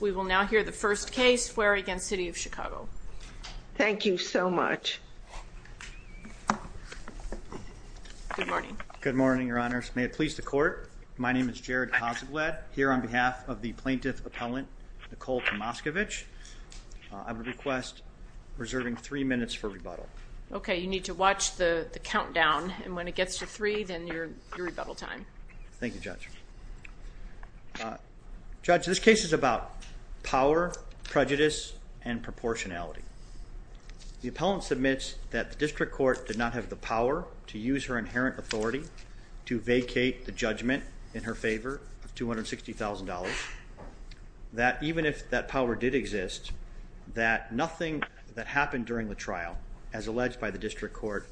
We will now hear the first case Fuery v. City of Chicago. Thank you so much. Good morning. Good morning, your honors. May it please the court. My name is Jared Hasegwed. Here on behalf of the plaintiff appellant, Nicole Tomascovich, I would request reserving three minutes for rebuttal. Okay, you need to watch the the countdown, and when it gets to three then your rebuttal time. Thank you, judge. Judge, this case is about power, prejudice, and proportionality. The appellant submits that the district court did not have the power to use her inherent authority to vacate the judgment in her favor of $260,000. That even if that power did exist, that nothing that happened during the trial, as alleged by the district court,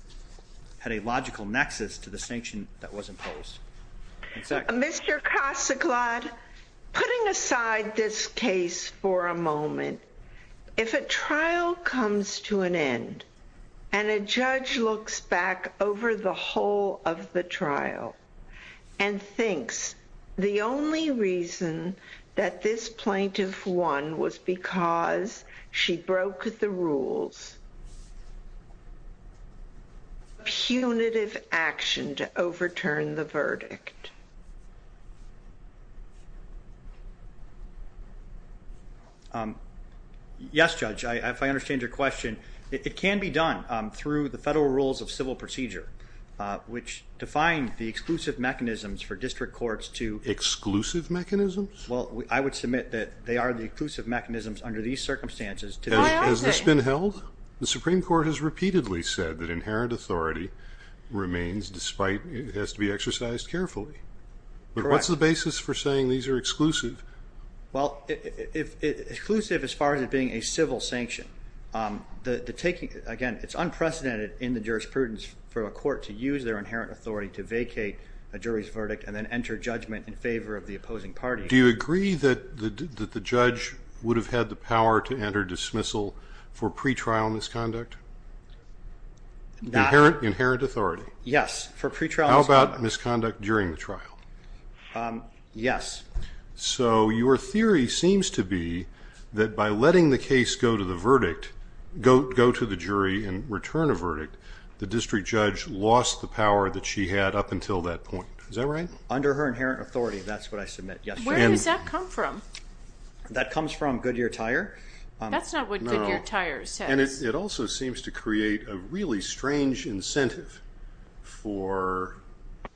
had a logical nexus to the sanction that was imposed. Exactly. Mr. Kasaglad, putting aside this case for a moment, if a trial comes to an end and a judge looks back over the whole of the trial and thinks the only reason that this plaintiff won was because she broke the rules, is it a punitive action to overturn the verdict? Yes, judge. If I understand your question, it can be done through the federal rules of civil procedure, which define the exclusive mechanisms for district courts to... Exclusive mechanisms? Well, I would submit that they are the exclusive mechanisms under these circumstances. Has this been held? The Supreme Court has repeatedly said that inherent authority remains despite it has to be exercised carefully. But what's the basis for saying these are exclusive? Well, exclusive as far as it being a civil sanction. Again, it's unprecedented in the jurisprudence for a court to use their inherent authority to vacate a jury's verdict and then enter judgment in favor of the opposing party. Do you agree that the judge would have had the power to enter dismissal for pre-trial misconduct? Inherent authority? Yes, for pre-trial... How about misconduct during the trial? Yes. So your theory seems to be that by letting the case go to the verdict, go to the jury and return a verdict, the district judge lost the power that she had up until that point. Is that right? Under her inherent authority, that's what I from. That comes from Goodyear Tire? That's not what Goodyear Tire says. And it also seems to create a really strange incentive for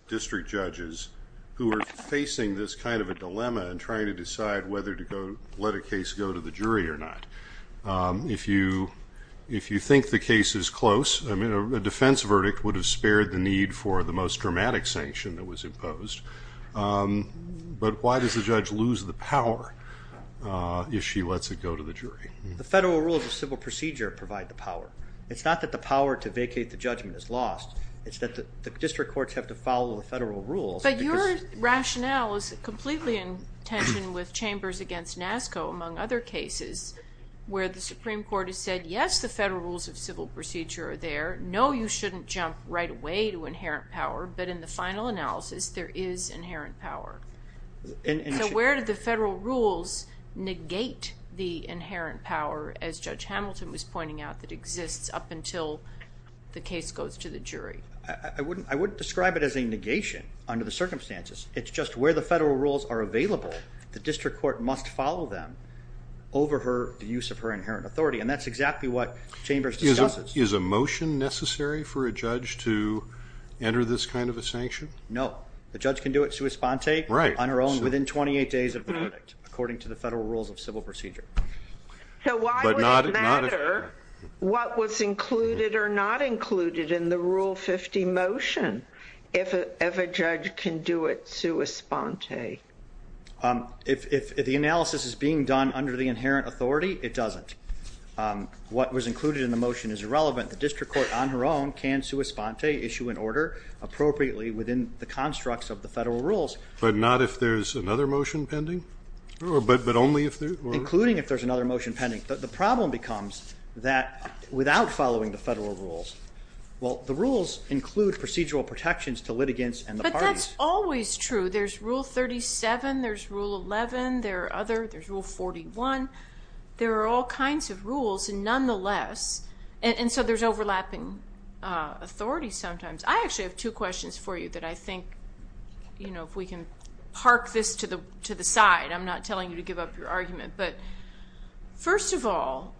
district judges who are facing this kind of a dilemma and trying to decide whether to let a case go to the jury or not. If you think the case is close, I mean, a defense verdict would have spared the need for the most dramatic sanction that was power if she lets it go to the jury. The federal rules of civil procedure provide the power. It's not that the power to vacate the judgment is lost, it's that the district courts have to follow the federal rules. But your rationale is completely in tension with chambers against NASCO, among other cases, where the Supreme Court has said, yes, the federal rules of civil procedure are there, no, you shouldn't jump right away to inherent power, but in the final analysis there is inherent power. So where do the federal rules negate the inherent power, as Judge Hamilton was pointing out, that exists up until the case goes to the jury? I wouldn't describe it as a negation under the circumstances. It's just where the federal rules are available, the district court must follow them over the use of her inherent authority. And that's exactly what chambers discusses. Is a motion necessary for a judge to enter this kind of a sanction? No. The judge can do it sua sponte on her own within 28 days of the verdict, according to the federal rules of civil procedure. So why would it matter what was included or not included in the Rule 50 motion if a judge can do it sua sponte? If the analysis is being done under the inherent authority, it doesn't. What was included in the motion is irrelevant. The district court on her own can sua sponte, issue an order appropriately within the constructs of the federal rules. But not if there's another motion pending? Including if there's another motion pending. The problem becomes that without following the federal rules, well the rules include procedural protections to litigants and the parties. But that's always true. There's Rule 37, there's Rule 11, there are other, there's Rule 41, there are all kinds of rules. And nonetheless, and so there's overlapping authority sometimes. I actually have two questions for you that I think, you know, if we can park this to the side. I'm not telling you to give up your argument. But first of all,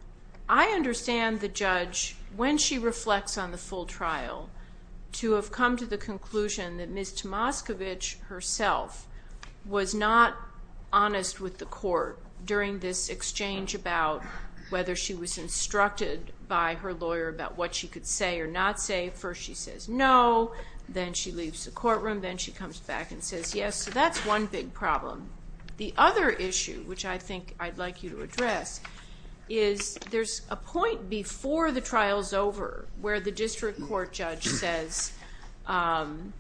I understand the judge, when she reflects on the full trial, to have come to the conclusion that Ms. Tomascovich herself was not honest with the court during this exchange about whether she was instructed by her lawyer about what she could say or not say. First she says no, then she leaves the courtroom, then she comes back and says yes. So that's one big problem. The other issue, which I think I'd like you to address, is there's a point before the trial's over where the district court judge says, um,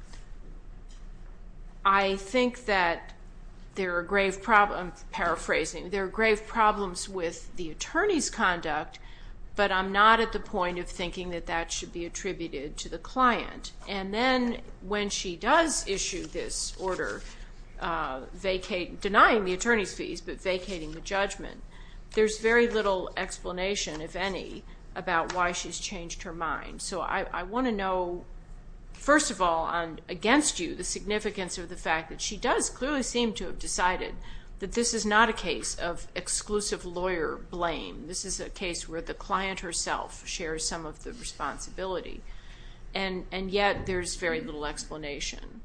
I think that there are grave problems, I'm paraphrasing, there are grave problems with the attorney's conduct, but I'm not at the point of thinking that that should be attributed to the client. And then when she does issue this order, vacating, denying the attorney's fees, but vacating the judgment, there's very little explanation, if any, about why she's changed her mind. So I want to know, first of all, against you, the significance of the fact that she does clearly seem to have decided that this is not a case of exclusive lawyer blame, this is a case where the client herself shares some of the responsibility, and yet there's very little explanation.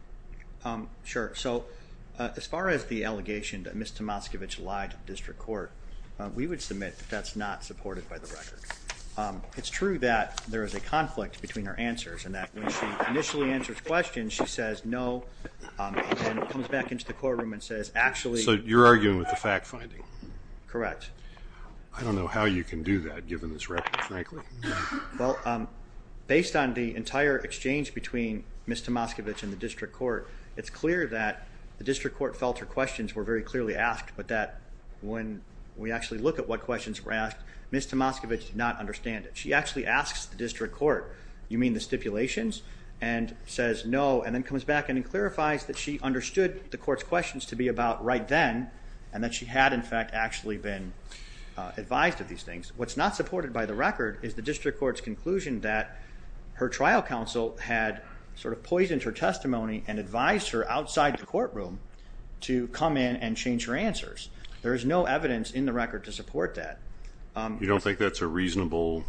Sure, so as far as the allegation that Ms. Tomascovich lied to the district court, we would submit that that's not supported by the record. It's true that there is a conflict between her answers, and that when she initially answers questions, she says no, and comes back into the courtroom and says, actually... So you're arguing with the fact-finding? Correct. I don't know how you can do that given this record, frankly. Well, based on the entire exchange between Ms. Tomascovich and the district court, it's clear that the district court felt her questions were very clearly asked, but that when we actually look at what questions were asked, Ms. Tomascovich did not understand it. She actually asks the district court, you mean the stipulations? And says no, and then comes back and clarifies that she understood the court's questions to be about right then, and that she had, in fact, actually been advised of these things. What's not supported by the record is the district court's conclusion that her trial counsel had sort of poisoned her testimony and advised her outside the courtroom to come in and change her answers. There is no evidence in the record to support that. You don't think that's a reasonable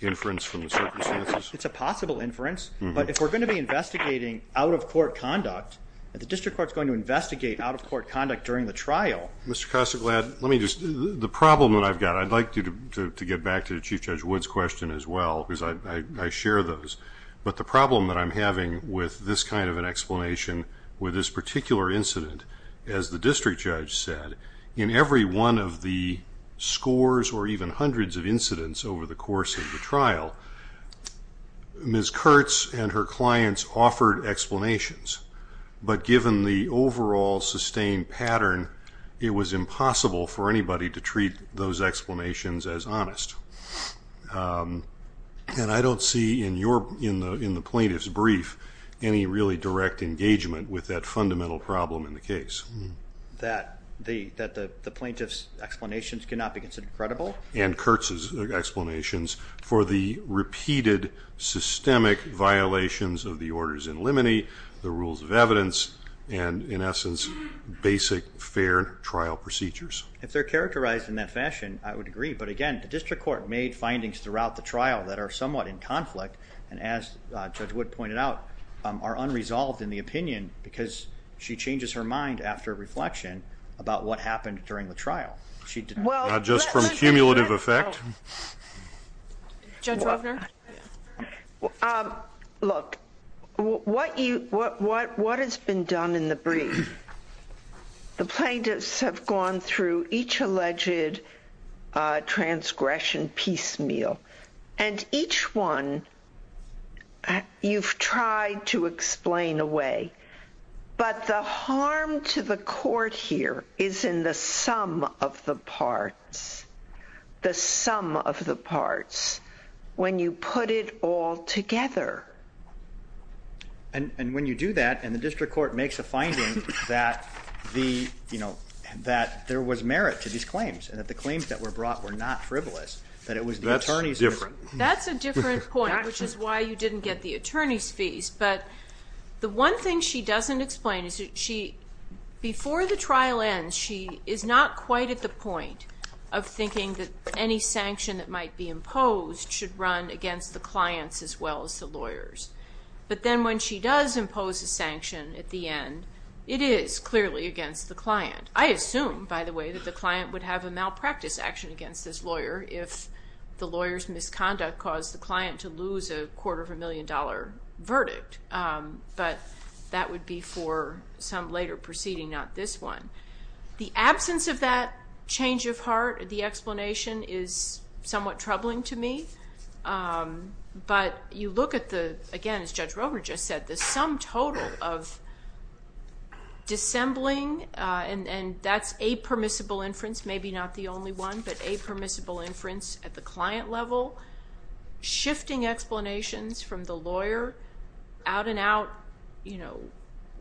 inference from the circumstances? It's a possible inference, but if we're going to be investigating out-of-court conduct, the district court's going to investigate out-of-court conduct during the trial. Mr. Kostoglad, let me just... The problem that I've got, I'd like you to get back to Chief Judge Wood's question as well, because I share those. But the problem that I'm having with this kind of an explanation with this particular incident, as the district judge said, in every one of the scores or even hundreds of incidents over the course of the trial, Ms. Kurtz and her clients offered explanations. But given the overall sustained pattern, it was impossible for anybody to treat those explanations as honest. And I don't see in the plaintiff's brief any really direct engagement with that fundamental problem in the case. That the plaintiff's explanations cannot be considered credible? And Kurtz's explanations for the repeated systemic violations of the orders in limine, the rules of evidence, and in essence, basic fair trial procedures. If they're characterized in that fashion, I would agree. But again, the district court made findings throughout the trial that are somewhat in conflict, and as Judge Wood pointed out, are unresolved in the opinion, because she changes her mind after reflection about what happened during the trial. She... Well... Not just from cumulative effect. Judge Ruffner? Look, what has been done in the brief, the plaintiffs have gone through each alleged transgression piecemeal, and each one you've tried to explain away. But the harm to the court here is in the sum of the parts, the sum of the parts, when you put it all together. And when you do that, and the district court makes a finding that there was merit to these claims, and that the claims that were brought were not frivolous, that it was the attorney's... That's different. That's a different point, which is why you didn't get the attorney's fees. But the one thing she doesn't explain is that she, before the trial ends, she is not quite at the point of thinking that any sanction that might be imposed should run against the clients as well as lawyers. But then when she does impose a sanction at the end, it is clearly against the client. I assume, by the way, that the client would have a malpractice action against this lawyer if the lawyer's misconduct caused the client to lose a quarter of a million dollar verdict. But that would be for some later proceeding, not this one. The absence of that change of heart, the explanation is somewhat troubling to me. But you look at the, again, as Judge Rover just said, the sum total of dissembling, and that's a permissible inference, maybe not the only one, but a permissible inference at the client level, shifting explanations from the lawyer, out and out,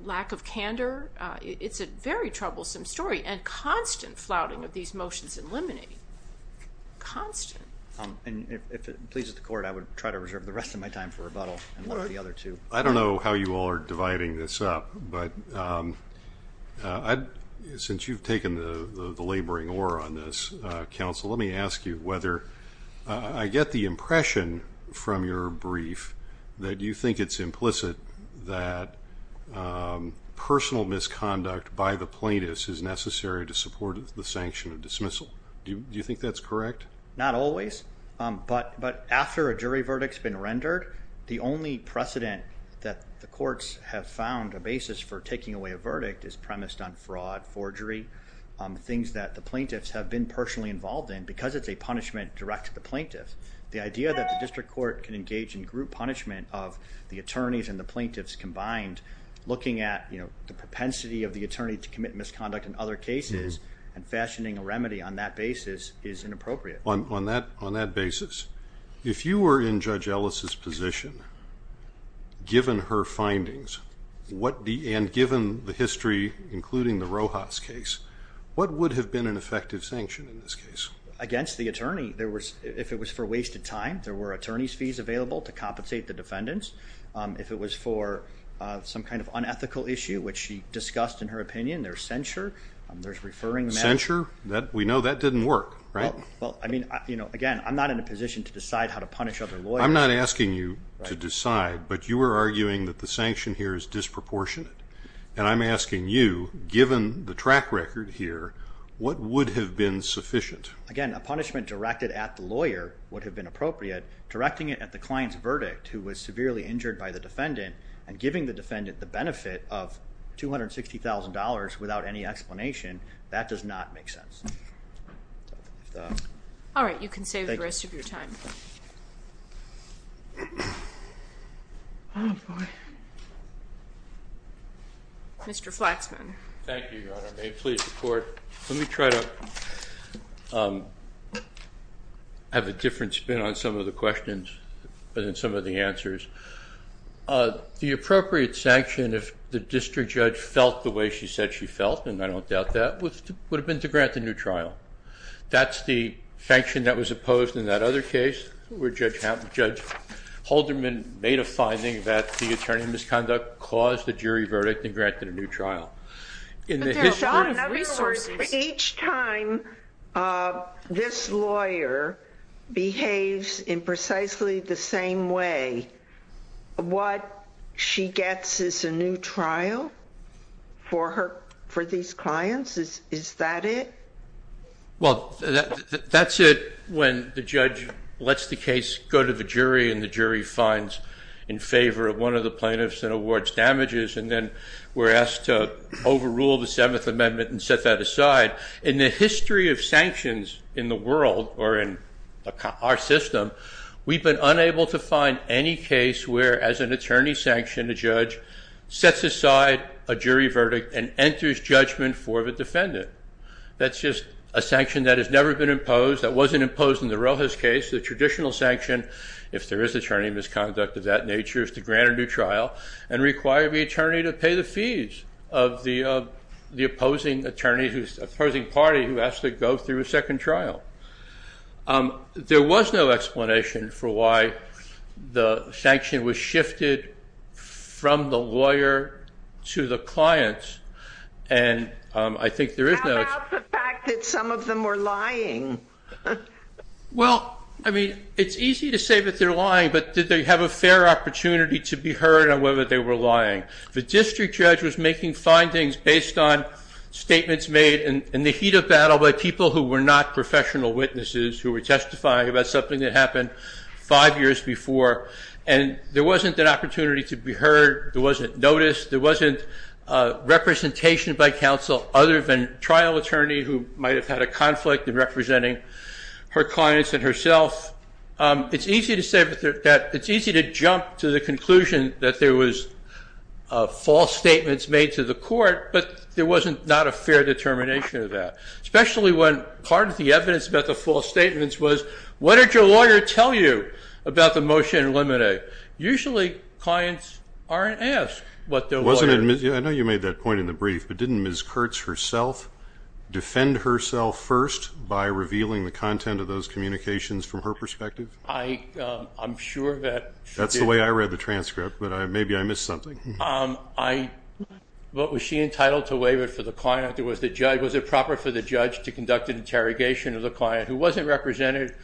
lack of candor. It's a very troublesome story, and constant flouting of these motions in limine. Constant. And if it pleases the court, I would try to reserve the rest of my time for rebuttal. I don't know how you all are dividing this up, but since you've taken the laboring aura on this, counsel, let me ask you whether I get the impression from your brief that you think it's implicit that personal misconduct by the plaintiff is necessary to support the sanction of dismissal. Do you think that's correct? Not always, but after a jury verdict's been rendered, the only precedent that the courts have found a basis for taking away a verdict is premised on fraud, forgery, things that the plaintiffs have been personally involved in, because it's a punishment direct to the plaintiff. The idea that the district court can engage in group punishment of the attorneys and the plaintiffs combined, looking at the propensity of the attorney to commit misconduct in other cases, and fashioning a remedy on that basis is inappropriate. On that basis, if you were in Judge Ellis's position, given her findings, and given the history, including the Rojas case, what would have been an effective sanction in this case? Against the attorney, if it was for wasted time, there were attorney's fees available to compensate the defendants. If it was for some kind of unethical issue, which she discussed in her opinion, there's censure, there's referring them out. Censure? We know that didn't work, right? Well, I mean, again, I'm not in a position to decide how to punish other lawyers. I'm not asking you to decide, but you were arguing that the sanction here is disproportionate, and I'm asking you, given the track record here, what would have been sufficient? Again, a punishment directed at the defendant, and giving the defendant the benefit of $260,000 without any explanation, that does not make sense. All right, you can save the rest of your time. Mr. Flaxman. Thank you, Your Honor. May it please the Court. Let me try to have a different spin on some of the questions than some of the answers. The appropriate sanction, if the district judge felt the way she said she felt, and I don't doubt that, would have been to grant the new trial. That's the sanction that was opposed in that other case, where Judge Holderman made a finding that the attorney misconduct caused the jury to find that the jury finds in favor of one of the plaintiffs and awards damages, and then we're asked to overrule the Seventh Amendment and set that aside. In the history of sanctions in the world, or in our system, we've been unable to find any case where, as an attorney sanctioned, a judge sets aside a jury verdict and enters judgment for the defendant. That's just a sanction that has never been imposed, that wasn't imposed in the Rojas case. The traditional sanction, if there is attorney misconduct of that nature, is to grant a new trial and require the trial. There was no explanation for why the sanction was shifted from the lawyer to the clients, and I think there is no... How about the fact that some of them were lying? Well, I mean, it's easy to say that they're lying, but did they have a fair opportunity to be heard on whether they were lying? The district judge was making findings based on statements made in the heat of battle by people who were not professional witnesses, who were testifying about something that happened five years before, and there wasn't an opportunity to be heard, there wasn't notice, there wasn't representation by counsel other than trial attorney who might have had a conflict in representing her clients and herself. It's easy to say that... It's easy to jump to the conclusion that there was false statements made to the court, but there wasn't not a fair determination of that, especially when part of the evidence about the false statements was, what did your lawyer tell you about the motion in limine? Usually clients aren't asked what their lawyer... I know you made that point in the brief, but didn't Ms. Kurtz herself defend herself first by revealing the content of those communications from her perspective? I'm sure that... That's the way I read the transcript, but maybe I missed something. Was she entitled to waive it for the client? Was it proper for the judge to conduct an interrogation of the client who wasn't represented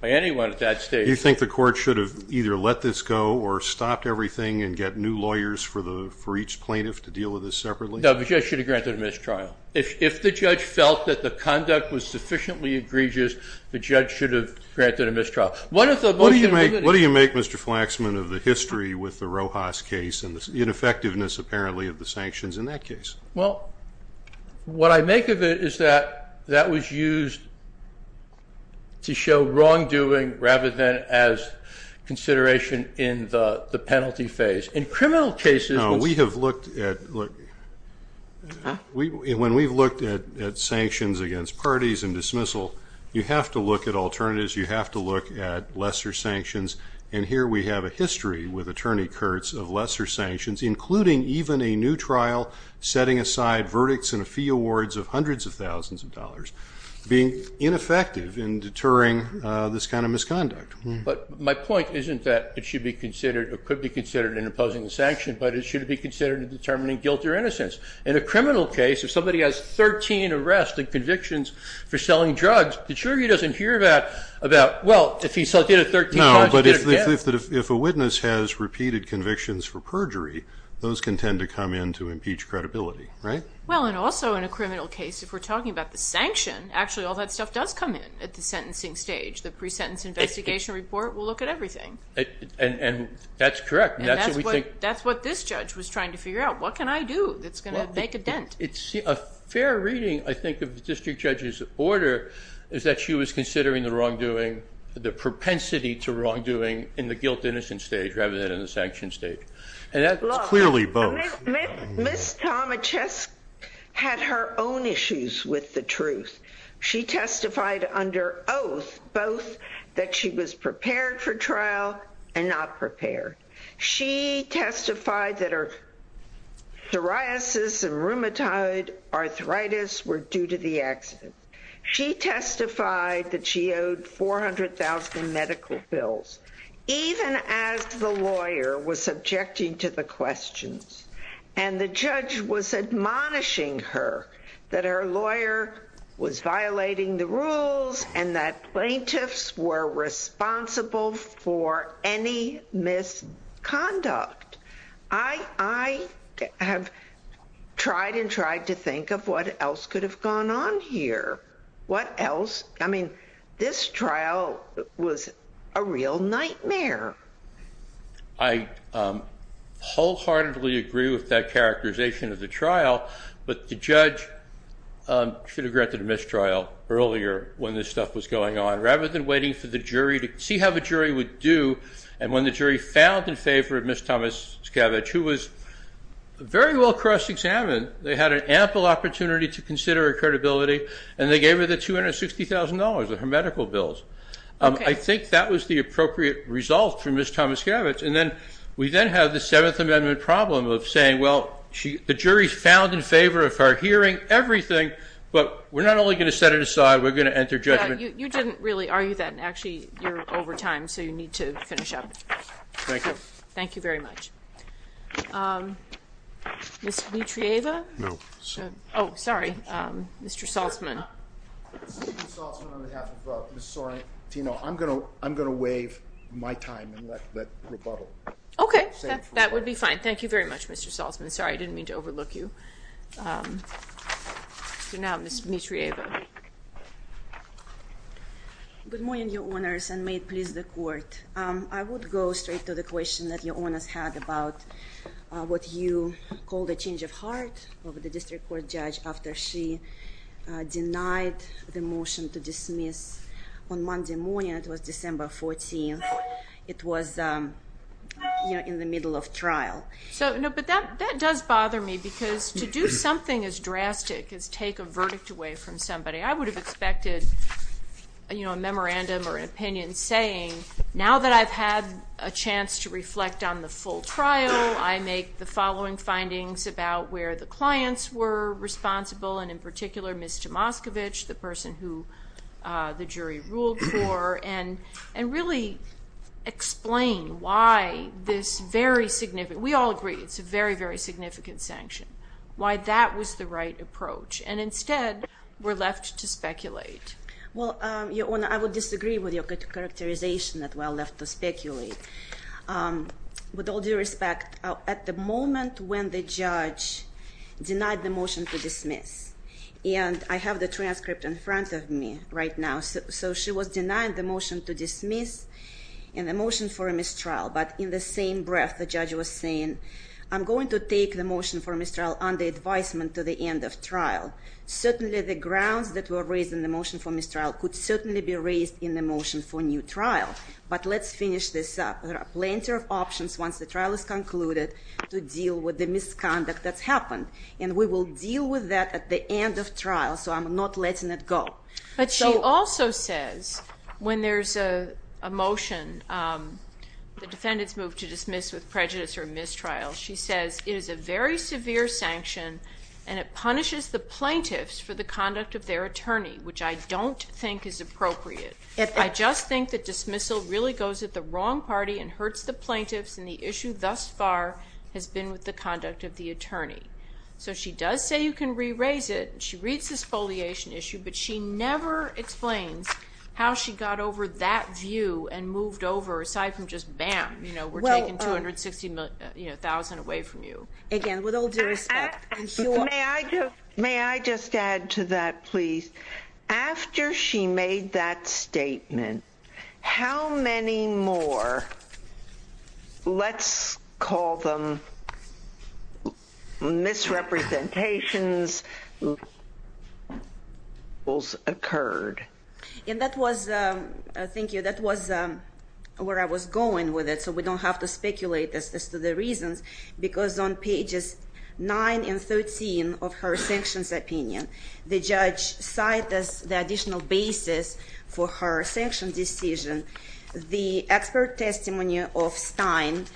by anyone at that stage? You think the court should have either let this go or stopped everything and get new lawyers for each plaintiff to deal with this separately? No, the judge should have granted a mistrial. If the judge felt that the conduct was sufficiently egregious, the judge should have granted a mistrial. What do you make, Mr. Flaxman, of the history with the Rojas case and the ineffectiveness, apparently, of the sanctions in that case? Well, what I make of it is that that was used to show wrongdoing rather than as consideration in the penalty phase. In criminal cases... We have looked at... When we've looked at sanctions against parties and dismissal, you have to look at alternatives. You have to look at lesser sanctions. And here we have a history with Attorney Kurtz of lesser sanctions, including even a new trial setting aside verdicts and a fee awards of hundreds of thousands of dollars, being ineffective in deterring this kind of misconduct. But my point isn't that it should be considered or could be considered in opposing the sanction, but it should be considered in determining guilt or innocence. In a criminal case, if somebody has 13 arrests and convictions for selling drugs, the jury doesn't hear about, well, if he did it 13 times, he did it again. No, but if a witness has repeated convictions for perjury, those can tend to come in to impeach credibility, right? Well, and also in a criminal case, if we're talking about the sanction, actually all that stuff does come in at the sentencing stage. The pre-sentence investigation report will look at everything. And that's correct. And that's what this judge was trying to figure out. What can I that's going to make a dent? It's a fair reading, I think, of the district judge's order is that she was considering the wrongdoing, the propensity to wrongdoing in the guilt, innocence stage, rather than in the sanction stage. And that's clearly both. Ms. Tomichesk had her own issues with the truth. She testified under oath, both that she was psoriasis and rheumatoid arthritis were due to the accident. She testified that she owed 400,000 medical bills, even as the lawyer was subjecting to the questions. And the judge was admonishing her that her lawyer was violating the rules and that plaintiffs were responsible for any misconduct. I have tried and tried to think of what else could have gone on here. What else? I mean, this trial was a real nightmare. I wholeheartedly agree with that characterization of the trial, but the judge should have granted a mistrial earlier when this stuff was going on, rather than waiting for the jury to see how the jury would do. And when the jury found in favor of Ms. Tomichesk, who was very well cross-examined, they had an ample opportunity to consider her credibility, and they gave her the $260,000 of her medical bills. I think that was the appropriate result for Ms. Tomichesk. And then we then have the Seventh Amendment problem of saying, well, the jury found in favor of her hearing everything, but we're not only going to set it aside, we're going to enter judgment. You didn't really argue that, and actually, you're over time, so you need to finish up. Thank you. Thank you very much. Ms. Mitrieva? No. Oh, sorry. Mr. Saltzman. I'm going to waive my time and let rebuttal. Okay, that would be fine. Thank you very much, Mr. Saltzman. Sorry, I didn't mean to overlook you. So now, Ms. Mitrieva. Good morning, Your Honors, and may it please the Court. I would go straight to the question that Your Honors had about what you call the change of heart of the district court judge after she denied the motion to dismiss. On Monday morning, it was December 14th, it was in the middle of trial. So, no, but that does bother me, because to do something as drastic as take a verdict away from somebody, I would have expected a memorandum or an opinion saying, now that I've had a chance to reflect on the full trial, I make the following findings about where the clients were responsible, and in particular, Ms. Tomaskiewicz, the person who the jury ruled for, and really explain why this very significant, we all agree it's a very, very significant sanction, why that was the right to speculate. Well, Your Honor, I would disagree with your characterization that we are left to speculate. With all due respect, at the moment when the judge denied the motion to dismiss, and I have the transcript in front of me right now, so she was denied the motion to dismiss and the motion for a mistrial, but in the same breath, the judge was saying, I'm going to take the motion for mistrial under advisement to the end of trial. Certainly, the grounds that were raised in the motion for mistrial could certainly be raised in the motion for new trial, but let's finish this up. There are plenty of options once the trial is concluded to deal with the misconduct that's happened, and we will deal with that at the end of trial, so I'm not letting it go. But she also says, when there's a motion, the defendant's moved to dismiss with prejudice or mistrial, she says, it is a very severe sanction, and it punishes the plaintiffs for the conduct of their attorney, which I don't think is appropriate. I just think that dismissal really goes at the wrong party and hurts the plaintiffs, and the issue thus far has been with the conduct of the attorney. So she does say you can re-raise it, and she reads this foliation issue, but she never explains how she got over that view and moved over, aside from just, bam, we're taking $260,000 away from you. Again, with all due respect. May I just add to that, please? After she made that statement, how many more, let's call them misrepresentations, occurred? And that was, thank you, that was where I was going with it, so we don't have to speculate as to the reasons, because on pages 9 and 13 of her sanctions opinion, the judge cited the additional basis for her sanction decision, the expert testimony of Stein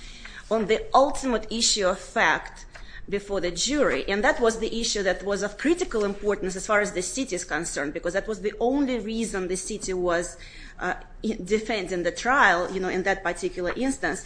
on the ultimate issue of fact before the jury, and that was the issue that was of critical importance as far as the city's concerned, because that was the only reason the city was defending the trial in that particular instance.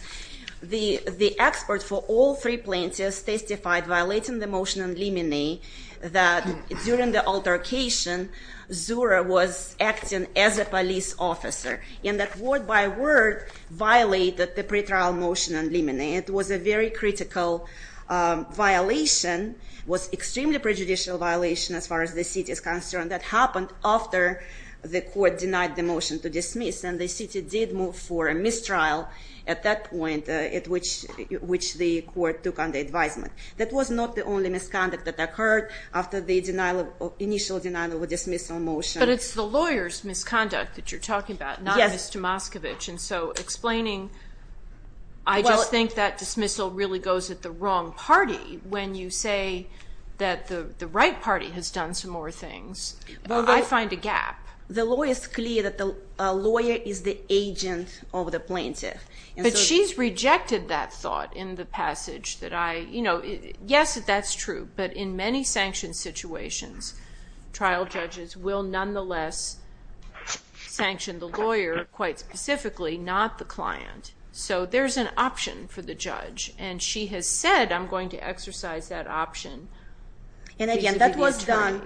The expert for all three plaintiffs testified violating the motion on limine that during the altercation, Zura was acting as a police officer, and that word by word violated the pretrial motion on limine. It was a very critical violation, was extremely prejudicial violation as far as the city is concerned, that happened after the court denied the motion to at that point at which the court took on the advisement. That was not the only misconduct that occurred after the initial denial of dismissal motion. But it's the lawyer's misconduct that you're talking about, not Mr. Moskovich, and so explaining, I just think that dismissal really goes at the wrong party when you say that the right party has done some more things. I find a gap. The law is clear that the lawyer is the agent of the plaintiff. But she's rejected that thought in the passage that I, you know, yes that's true, but in many sanction situations, trial judges will nonetheless sanction the lawyer quite specifically, not the client. So there's an option for the judge, and she has said, I'm going to exercise that option. And again, that was done,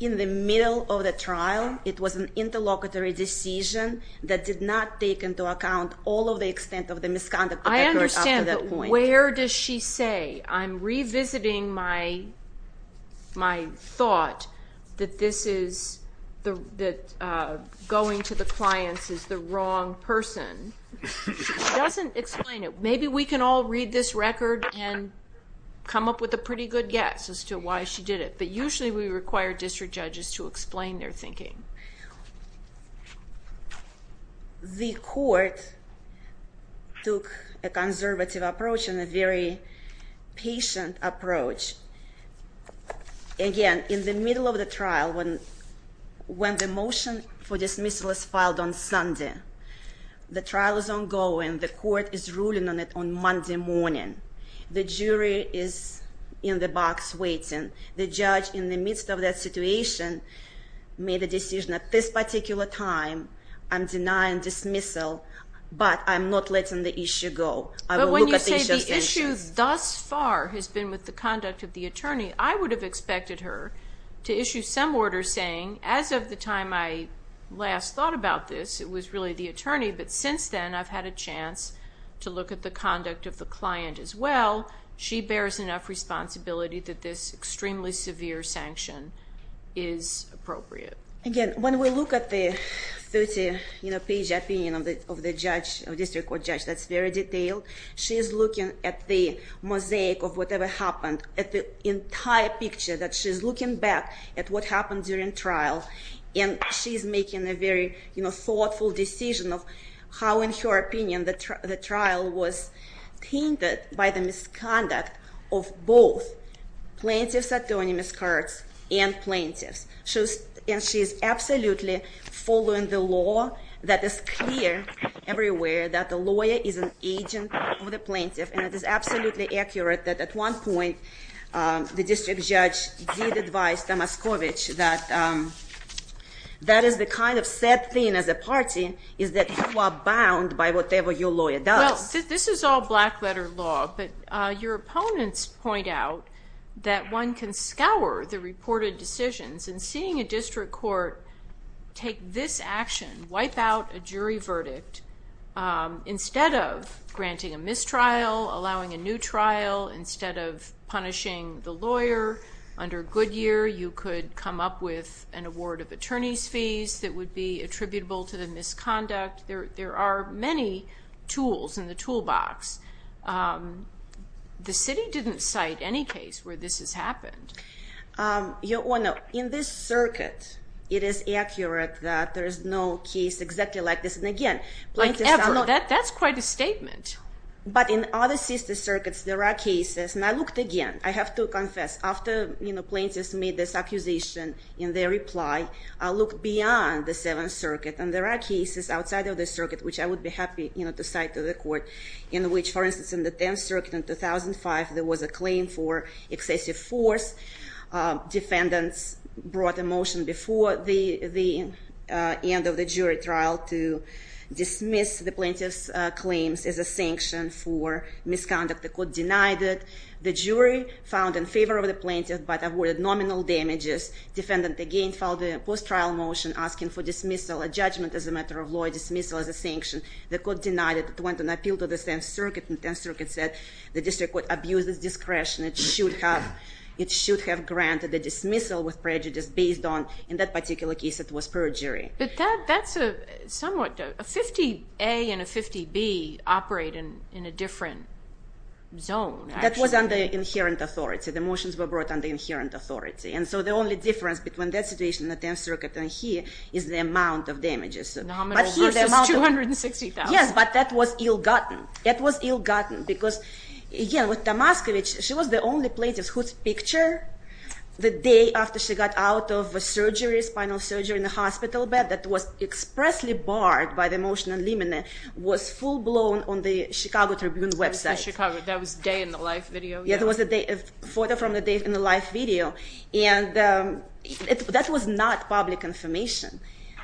in the middle of the trial. It was an interlocutory decision that did not take into account all of the extent of the misconduct. I understand, but where does she say, I'm revisiting my thought that this is, that going to the clients is the wrong person. She doesn't explain it. Maybe we can all read this record and come up with a pretty good guess as to why she did it. But usually we require district judges to explain their thinking. The court took a conservative approach and a very patient approach. Again, in the middle of the trial, when the motion for dismissal is filed on Sunday, the trial is ongoing. The court is ruling on it on Monday morning. The jury is in the box waiting. The judge, in the midst of that situation, made the decision at this particular time, I'm denying dismissal, but I'm not letting the issue go. But when you say the issue thus far has been with the conduct of the attorney, I would have expected her to issue some order saying, as of the time I last thought about this, it was really the attorney, but since then I've had a chance to look at the conduct of the client as well. She bears enough responsibility that this extremely severe sanction is appropriate. Again, when we look at the 30-page opinion of the district court judge that's very detailed, she is looking at the mosaic of whatever happened, at the entire picture that she's looking back at what happened during trial. She's making a very thoughtful decision of how, in her opinion, the trial was tainted by the misconduct of both plaintiff's autonomous cards and plaintiff's. She is absolutely following the law that is clear everywhere that the lawyer is an agent of the plaintiff. It is absolutely accurate that at one point the district judge did advise that that is the kind of sad thing as a party, is that you are bound by whatever your lawyer does. This is all black-letter law, but your opponents point out that one can scour the reported decisions, and seeing a district court take this action, wipe out a jury verdict, instead of granting a mistrial, allowing a new trial, instead of punishing the lawyer under Goodyear, you could come up with an award of attorney's fees that would be attributable to the misconduct. There are many tools in the toolbox. The city didn't cite any case where this has happened. Your Honor, in this circuit, it is accurate that there is no case exactly like this. And again, plaintiffs are not... Like ever. That's quite a statement. But in other sister circuits, there are cases, and I looked again, I have to confess, after plaintiffs made this accusation in their reply, I looked beyond the Seventh Circuit, and there are cases outside of the circuit, which I would be happy to cite to the court, in which, for instance, in the Tenth Circuit in 2005, there was a claim for excessive force. Defendants brought a motion before the end of the jury trial to dismiss the plaintiff's claims as a sanction for misconduct. The court denied it. The jury found in favor of the plaintiff, but awarded nominal damages. Defendant again filed a post-trial motion asking for dismissal, a judgment as a matter of law, dismissal as a sanction. The court denied it. It went on appeal to the Tenth Circuit, and the Tenth Circuit said the district court abused its discretion. It should have granted the dismissal with prejudice based on, in that particular case, it was perjury. But that's a somewhat... A 50A and a 50B operate in a different zone, actually. That was under inherent authority. The motions were brought under inherent authority. And so the only difference between that situation in the Tenth Circuit and here is the amount of damages. Nominal versus $260,000. Yes, but that was ill-gotten. It was ill-gotten because, again, with Tamaskovich, she was the only plaintiff whose picture, the day after she got out of a surgery, spinal surgery in the hospital bed, that was expressly barred by the motion and limine, was full-blown on the Chicago Tribune website. The Chicago... That was day in the life video. Yeah, there was a photo from the day in the life video. And that was not public information.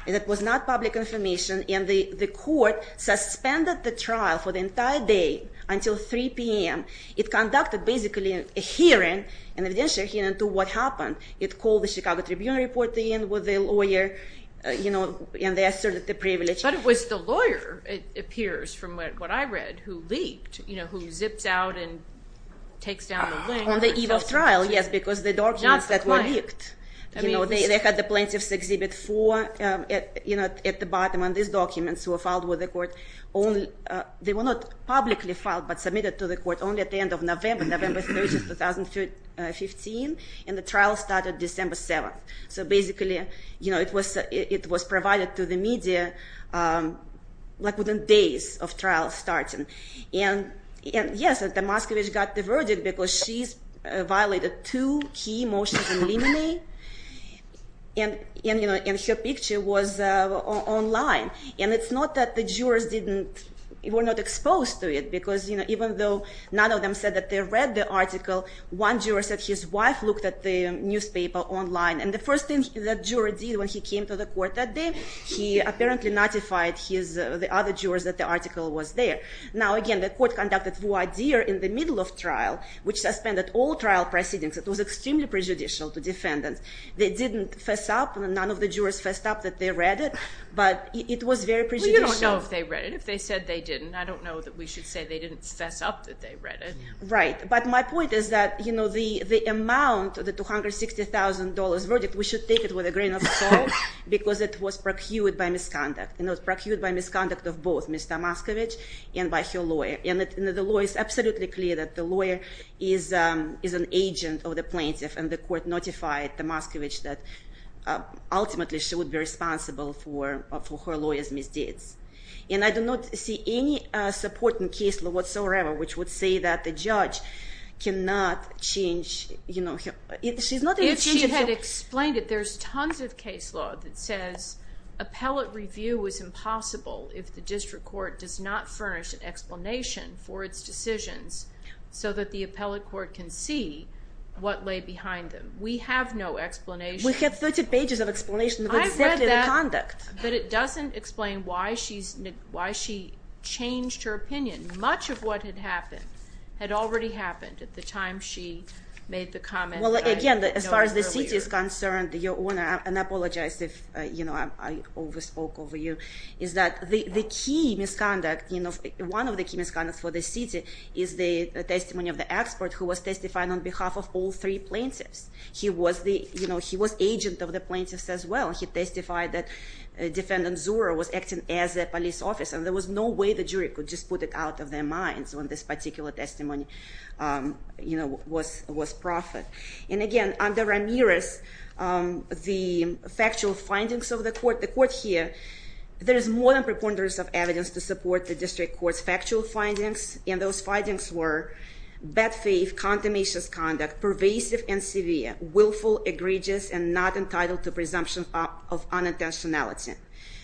And it was not public information. And the court suspended the trial for the entire day until 3 p.m. It conducted, basically, a hearing, an evidential hearing, to what happened. It called the Chicago Tribune report in with a lawyer, and they asserted the privilege. But it was the lawyer, it appears from what I read, who leaked, who zips out and takes down the link. On the eve of trial, yes, because the documents that were leaked. Not the client. They had the plaintiff's Exhibit 4 at the bottom, and these documents were filed with the court. They were not publicly filed, but submitted to the court only at the end of November, November 30th, 2015. And the trial started December 7th. So basically, it was provided to the media within days of trial starting. And yes, Damaskovich got the verdict because she violated two key motions and limine. And her picture was online. And it's not that the jurors were not exposed to it, because even though none of them said that they read the article, one juror said his wife looked at the newspaper online. And the first thing that juror did when he came to the court that day, he apparently notified the other jurors that the article was there. Now again, the court conducted voir dire in the middle of trial, which suspended all trial proceedings. It was extremely prejudicial to defendants. They didn't fess up. None of the jurors fessed up that they read it. But it was very prejudicial. Well, you don't know if they read it. If they said they didn't, I don't know that we should say they didn't fess up that they read it. Right. But my point is that the amount, the $260,000 verdict, we should take it with a grain of salt, because it was procured by misconduct. And it was procured by misconduct of both Ms. Damaskovich and by her lawyer. And the law is absolutely clear that the lawyer is an agent of the plaintiff. And the court notified Damaskovich that, ultimately, she would be responsible for her lawyer's misdeeds. And I do not see any support in case law whatsoever, which would say that the judge cannot change, you know, she's not able to change herself. If she had explained it, there's tons of case law that says appellate review is impossible if the district court does not furnish an explanation for its decisions so that the appellate court can see what lay behind them. We have no explanation. We have 30 pages of explanation of exactly the conduct. But it doesn't explain why she changed her opinion. Much of what had happened had already happened at the time she made the comment. Well, again, as far as the city is concerned, your Honor, and I apologize if I overspoke over you, is that the key misconduct, one of the key misconducts for the city is the testimony of the expert who was testified on behalf of all three plaintiffs. He was the, you know, he was agent of the plaintiffs as well. He testified that defendant Zura was acting as a police officer. There was no way the jury could just put it out of their minds when this particular testimony, you know, was proffered. And again, under Ramirez, the factual findings of the court, the court here, there is more than preponderance of evidence to support the district court's factual findings. And those findings were bad faith, condemnation's conduct, pervasive and severe, willful, egregious, and not entitled to presumption of unintentionality.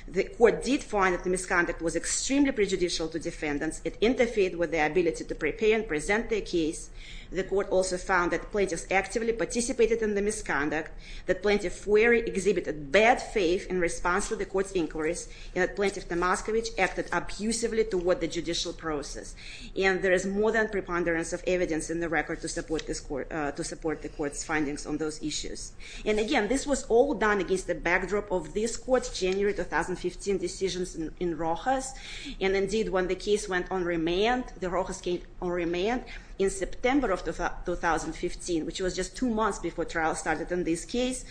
The court did find that the misconduct was extremely prejudicial to defendants. It interfered with their ability to prepare and present their case. The court also found that plaintiffs actively participated in the misconduct, that Plaintiff Wherry exhibited bad faith in response to the court's inquiries, and that Plaintiff Tomascovich acted abusively toward the judicial process. And there is more than preponderance of evidence in the record to support the court's findings on those issues. And again, this was all done against the backdrop of this court's January 2015 decisions in Rojas. And indeed, when the case went on remand, the Rojas case went on remand in September of 2015, which was just two months before trial started in this case.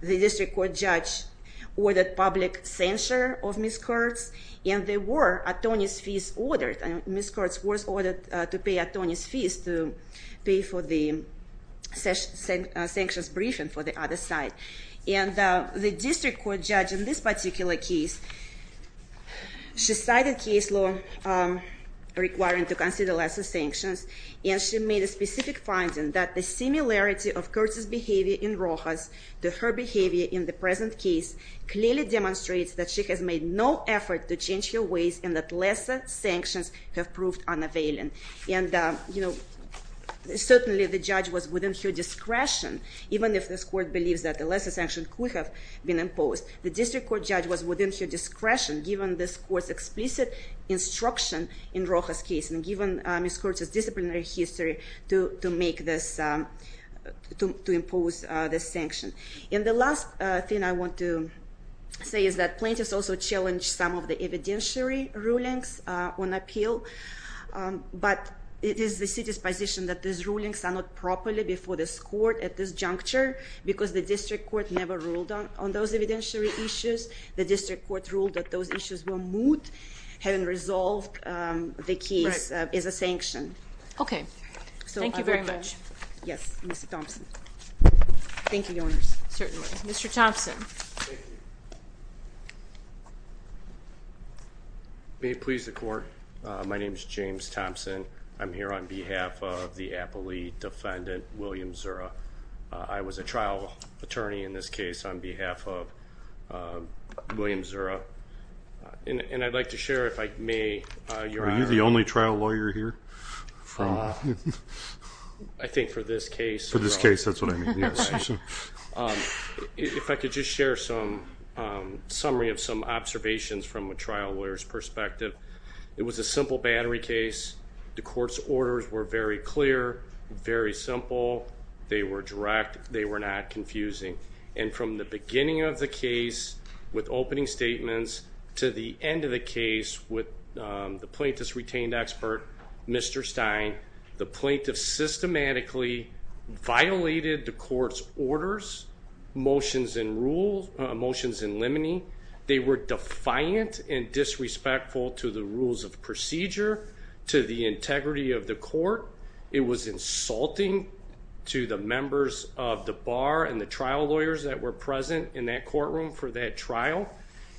The district court judge ordered public censure of Ms. Kurtz. And there were atonist fees ordered. And Ms. Kurtz was ordered to pay atonist fees to pay for the sanctions briefing for the other side. And the district court judge in this particular case, she cited case law requiring to consider lesser sanctions. And she made a specific finding that the similarity of Kurtz's behavior in Rojas to her behavior in the present case clearly demonstrates that she has made no effort to change her ways and that lesser sanctions have proved unavailing. And certainly, the judge was within her discretion, even if this court believes that a lesser sanction could have been imposed. The district court judge was within her discretion, given this court's explicit instruction in Rojas case and given Ms. Kurtz's disciplinary history to impose this sanction. And the last thing I want to say is that plaintiffs also challenged some of the evidentiary rulings on appeal. But it is the city's position that these rulings are not properly before this court at this juncture because the district court never ruled on those evidentiary issues. The district court ruled that those issues were moot, having resolved the case as a sanction. Okay. Thank you very much. Yes. Mr. Thompson. Thank you, Your Honors. Certainly. Mr. Thompson. May it please the court. My name is James Thompson. I'm here on behalf of the appellee defendant, William Zura. I was a trial attorney in this case on behalf of William Zura. And I'd like to share, if I may, Your Honor. Are you the only trial lawyer here? I think for this case. For this case, that's what I mean. Yes. If I could just share some summary of some observations from a trial lawyer's perspective. It was a simple battery case. The court's orders were very clear, very simple. They were direct. They were not confusing. And from the beginning of the case with opening statements to the end of the case with the plaintiff's retained expert, Mr. Stein, the plaintiff systematically violated the court's orders, motions and limine. They were defiant and disrespectful to the rules of procedure, to the integrity of the court. It was insulting to the members of the bar and the trial lawyers that were present in that courtroom for that trial.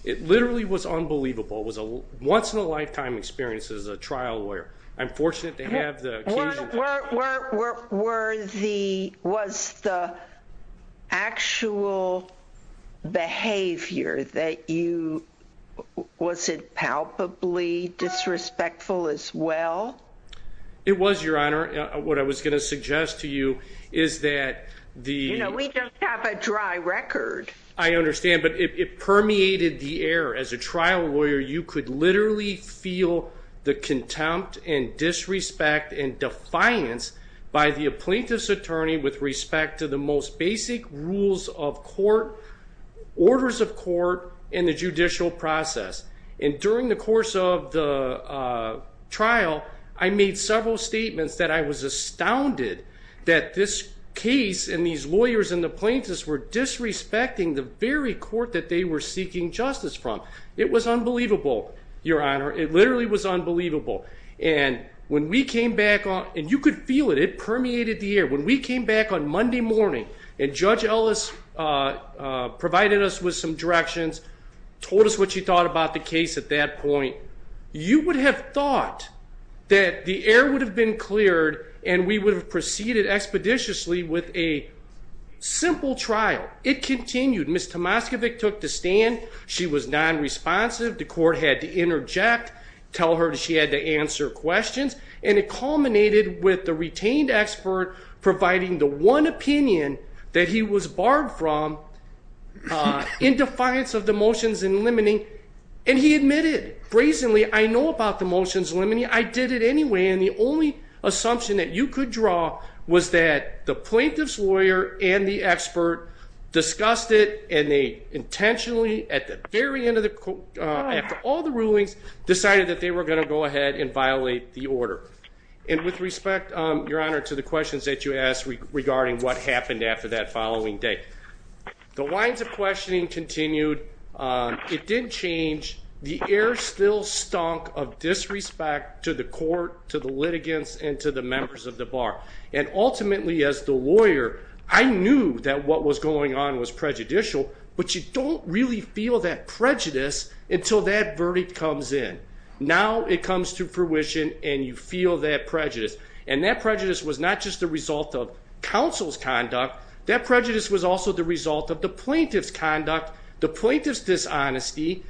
It literally was unbelievable. It was a once-in-a-lifetime experience as a trial lawyer. I'm fortunate to have the occasion. Were the, was the actual behavior that you, was it palpably disrespectful as well? It was, Your Honor. What I was going to suggest to you is that the... You know, we just have a dry record. I understand, but it permeated the air. As a trial lawyer, you could literally feel the contempt and disrespect and defiance by the plaintiff's attorney with respect to the most basic rules of court, orders of court and the judicial process. And during the course of the trial, I made several statements that I was astounded that this case and these lawyers and the plaintiffs were disrespecting the very court that they were seeking justice from. It was unbelievable, Your Honor. It literally was unbelievable. And when we came back on... And you could feel it. It permeated the air. When we came back on Monday morning and Judge Ellis provided us with some directions, told us what she thought about the case at that point, you would have thought that the air would have been cleared and we would have proceeded expeditiously with a simple trial. It continued. Ms. Tomaskiewicz took the stand. She was non-responsive. The court had to interject, tell her she had to answer questions. And it culminated with the retained expert providing the one opinion that he was barred from in defiance of the motions in limiting. And he admitted, brazenly, I know about the motions limiting. I did it anyway. And the only assumption that you could draw was that the plaintiff's lawyer and the expert discussed it and they intentionally, at the very end of the... After all the rulings, decided that they were going to go ahead and violate the order. And with respect, Your Honor, to the questions that you asked regarding what happened after that following day. The lines of questioning continued. It didn't change. The air still stunk of disrespect to the court, to the litigants and to the members of the bar. And ultimately, as the lawyer, I knew that what was going on was prejudicial, but you don't really feel that prejudice until that verdict comes in. Now it comes to fruition and you feel that prejudice. And that prejudice was not just the result of counsel's conduct. That prejudice was also the result of the plaintiff's conduct, the plaintiff's dishonesty.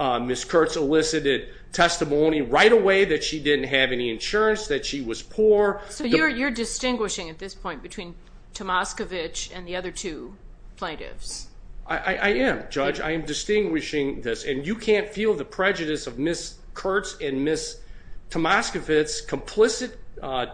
Ms. Kurtz elicited testimony right away that she didn't have any insurance, that she was poor. So you're distinguishing at this point between Tomaskiewicz and the other two plaintiffs? I am, Judge. I am distinguishing this. And you can't feel the prejudice of Ms. Kurtz and Ms. Tomaskiewicz's complicit,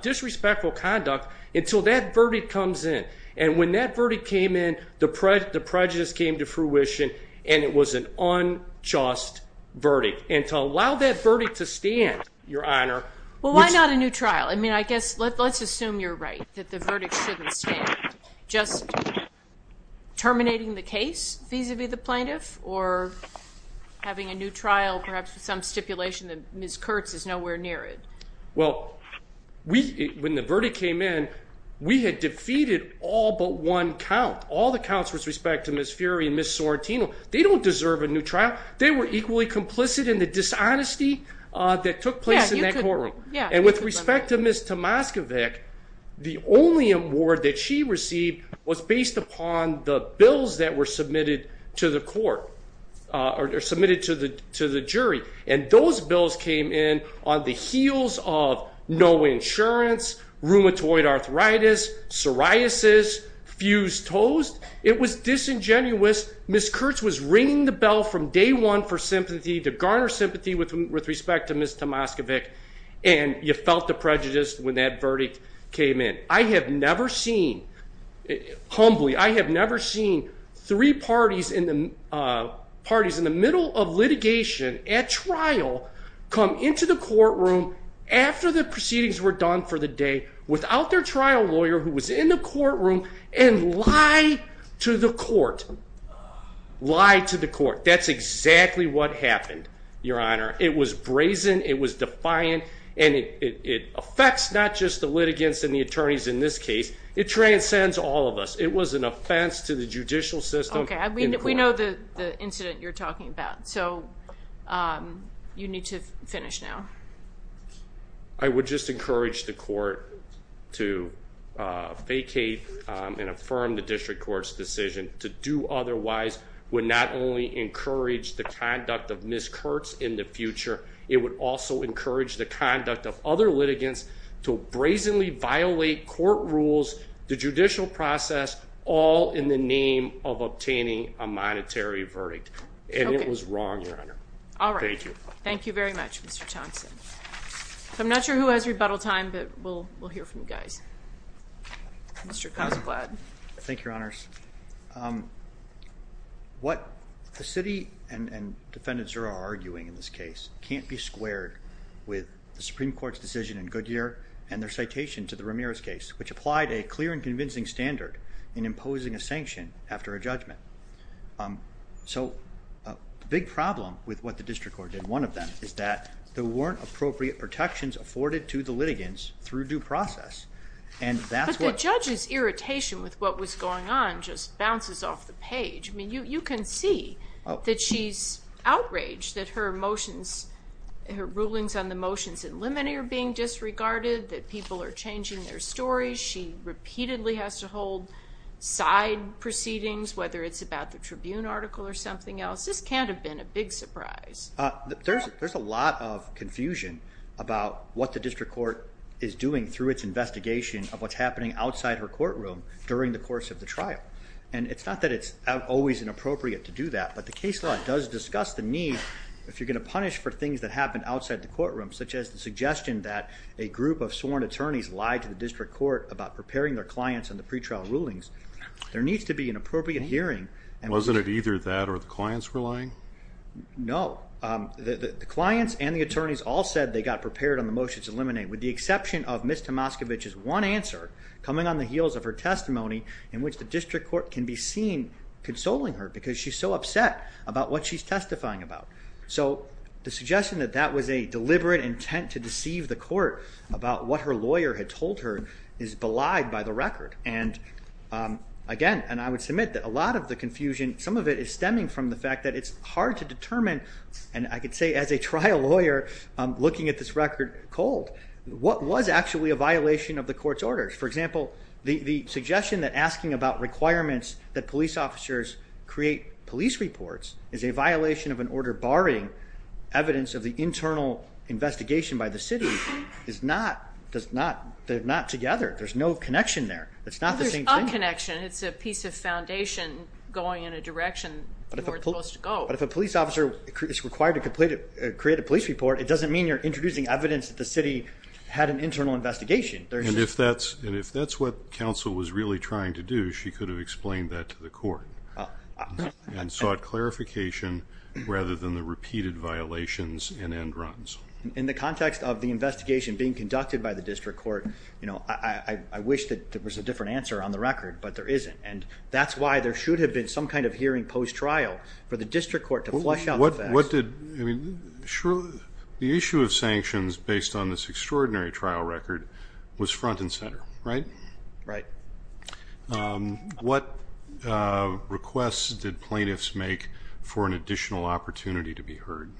disrespectful conduct until that verdict comes in. And when that verdict came in, the prejudice came to fruition and it was an unjust verdict. And to allow that verdict to stand, Your Honor... Well, why not a new trial? I mean, I guess, let's assume you're right, that the verdict shouldn't stand. Just terminating the case vis-a-vis the plaintiff or having a new trial, perhaps with some stipulation that Ms. Kurtz is nowhere near it. Well, when the verdict came in, we had defeated all but one count, all the counts with respect to Ms. Fury and Ms. Sorrentino. They don't deserve a new trial. They were equally complicit in the dishonesty that took place in that courtroom. And with respect to Ms. Tomaskiewicz, the only award that she received was based upon the bills that were submitted to the court or submitted to the jury. And those bills came in on the heels of no insurance, rheumatoid arthritis, psoriasis, fused toes. It was disingenuous. Ms. Kurtz was ringing the bell from day one for sympathy to garner sympathy with respect to Ms. Tomaskiewicz. And you felt the prejudice when that verdict came in. I have never seen, humbly, I have never seen three parties in the middle of litigation at trial come into the courtroom after the proceedings were done for the day without their trial lawyer who was in the courtroom and lie to the court. Lie to the court. That's exactly what happened, Your Honor. It was brazen. It was defiant. And it affects not just the litigants and the attorneys in this case. It transcends all of us. It was an offense to the judicial system. We know the incident you're talking about. So you need to finish now. I would just encourage the court to vacate and affirm the district court's decision. To do otherwise would not only encourage the conduct of Ms. Kurtz in the future. It would also encourage the conduct of other litigants to brazenly violate court rules, the judicial process, all in the name of obtaining a monetary verdict. And it was wrong, Your Honor. All right. Thank you. Thank you very much, Mr. Thompson. So I'm not sure who has rebuttal time, but we'll hear from you guys. Mr. Cosblad. Thank you, Your Honors. What the city and Defendant Zura are arguing in this case can't be squared with the Supreme Court's decision in Goodyear and their citation to the Ramirez case, which applied a clear and convincing standard in imposing a sanction after a judgment. So a big problem with what the district court did, one of them, is that there weren't appropriate protections afforded to the litigants through due process. And that's what... But the judge's irritation with what was going on just bounces off the page. I mean, you can see that she's outraged that her motions, her rulings on the motions in limine are being disregarded, that people are changing their stories. She repeatedly has to hold side proceedings, whether it's about the Tribune article or something else. This can't have been a big surprise. There's a lot of confusion about what the district court is doing through its investigation of what's happening outside her courtroom during the course of the trial. And it's not that it's always inappropriate to do that, if you're going to punish for things that happened outside the courtroom, such as the suggestion that a group of sworn attorneys lied to the district court about preparing their clients on the pretrial rulings. There needs to be an appropriate hearing. And wasn't it either that or the clients were lying? No, the clients and the attorneys all said they got prepared on the motions in limine with the exception of Ms. Tomaskiewicz's one answer coming on the heels of her testimony in which the district court can be seen consoling her because she's so upset about what she's testifying about. So the suggestion that that was a deliberate intent to deceive the court about what her lawyer had told her is belied by the record. And again, and I would submit that a lot of the confusion, some of it is stemming from the fact that it's hard to determine. And I could say as a trial lawyer looking at this record cold, what was actually a violation of the court's orders? For example, the suggestion that asking about requirements that police officers create police reports is a violation of an order barring evidence of the internal investigation by the city is not, they're not together. There's no connection there. It's not the same thing. There's a connection. It's a piece of foundation going in a direction you weren't supposed to go. But if a police officer is required to create a police report, it doesn't mean you're introducing evidence that the city had an internal investigation. And if that's what counsel was really trying to do, she could have explained that to the court and sought clarification rather than the repeated violations and end runs. In the context of the investigation being conducted by the district court, you know, I wish that there was a different answer on the record, but there isn't. And that's why there should have been some kind of hearing post-trial for the district court to flush out the facts. What did, I mean, the issue of sanctions based on this extraordinary trial record was front and center, right? Right. What requests did plaintiffs make for an additional opportunity to be heard?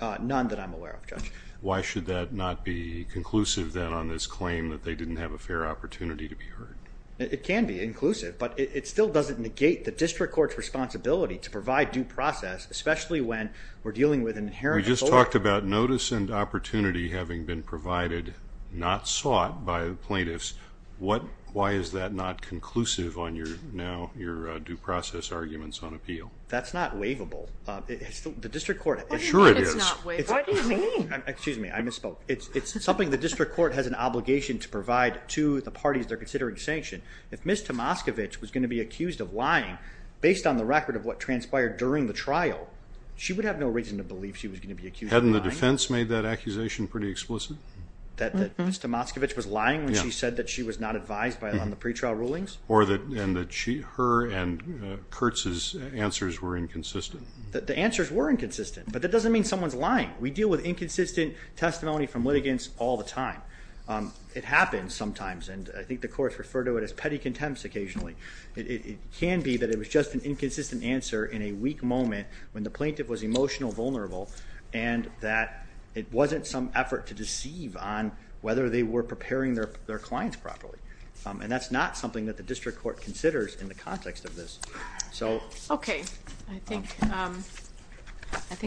None that I'm aware of, Judge. Why should that not be conclusive then on this claim that they didn't have a fair opportunity to be heard? It can be inclusive, but it still doesn't negate the district court's responsibility to provide due process, especially when we're dealing with an inherent- We just talked about notice and opportunity having been provided, not sought by the plaintiffs. What, why is that not conclusive on your now, your due process arguments on appeal? That's not waivable. The district court- Sure it is. What do you mean? Excuse me, I misspoke. It's something the district court has an obligation to provide to the parties they're considering sanction. If Ms. Tomaskiewicz was going to be accused of lying based on the record of what transpired during the trial, she would have no reason to believe she was going to be accused of lying. Hadn't the defense made that accusation pretty explicit? That Ms. Tomaskiewicz was lying when she said that she was not advised on the pretrial rulings? Or that, and that she, and Kurtz's answers were inconsistent? The answers were inconsistent, but that doesn't mean someone's lying. We deal with inconsistent testimony from litigants all the time. It happens sometimes, and I think the courts refer to it as petty contempt occasionally. It can be that it was just an inconsistent answer in a weak moment when the plaintiff was emotional, vulnerable, and that it wasn't some effort to deceive on whether they were preparing their clients properly. And that's not something that the district court considers in the context of this, so. Okay, I think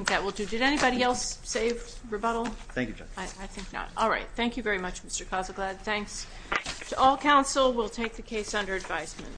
that will do. Did anybody else save rebuttal? Thank you, Judge. I think not. All right. Thank you very much, Mr. Kozleglad. Thanks to all counsel. We'll take the case under advisement.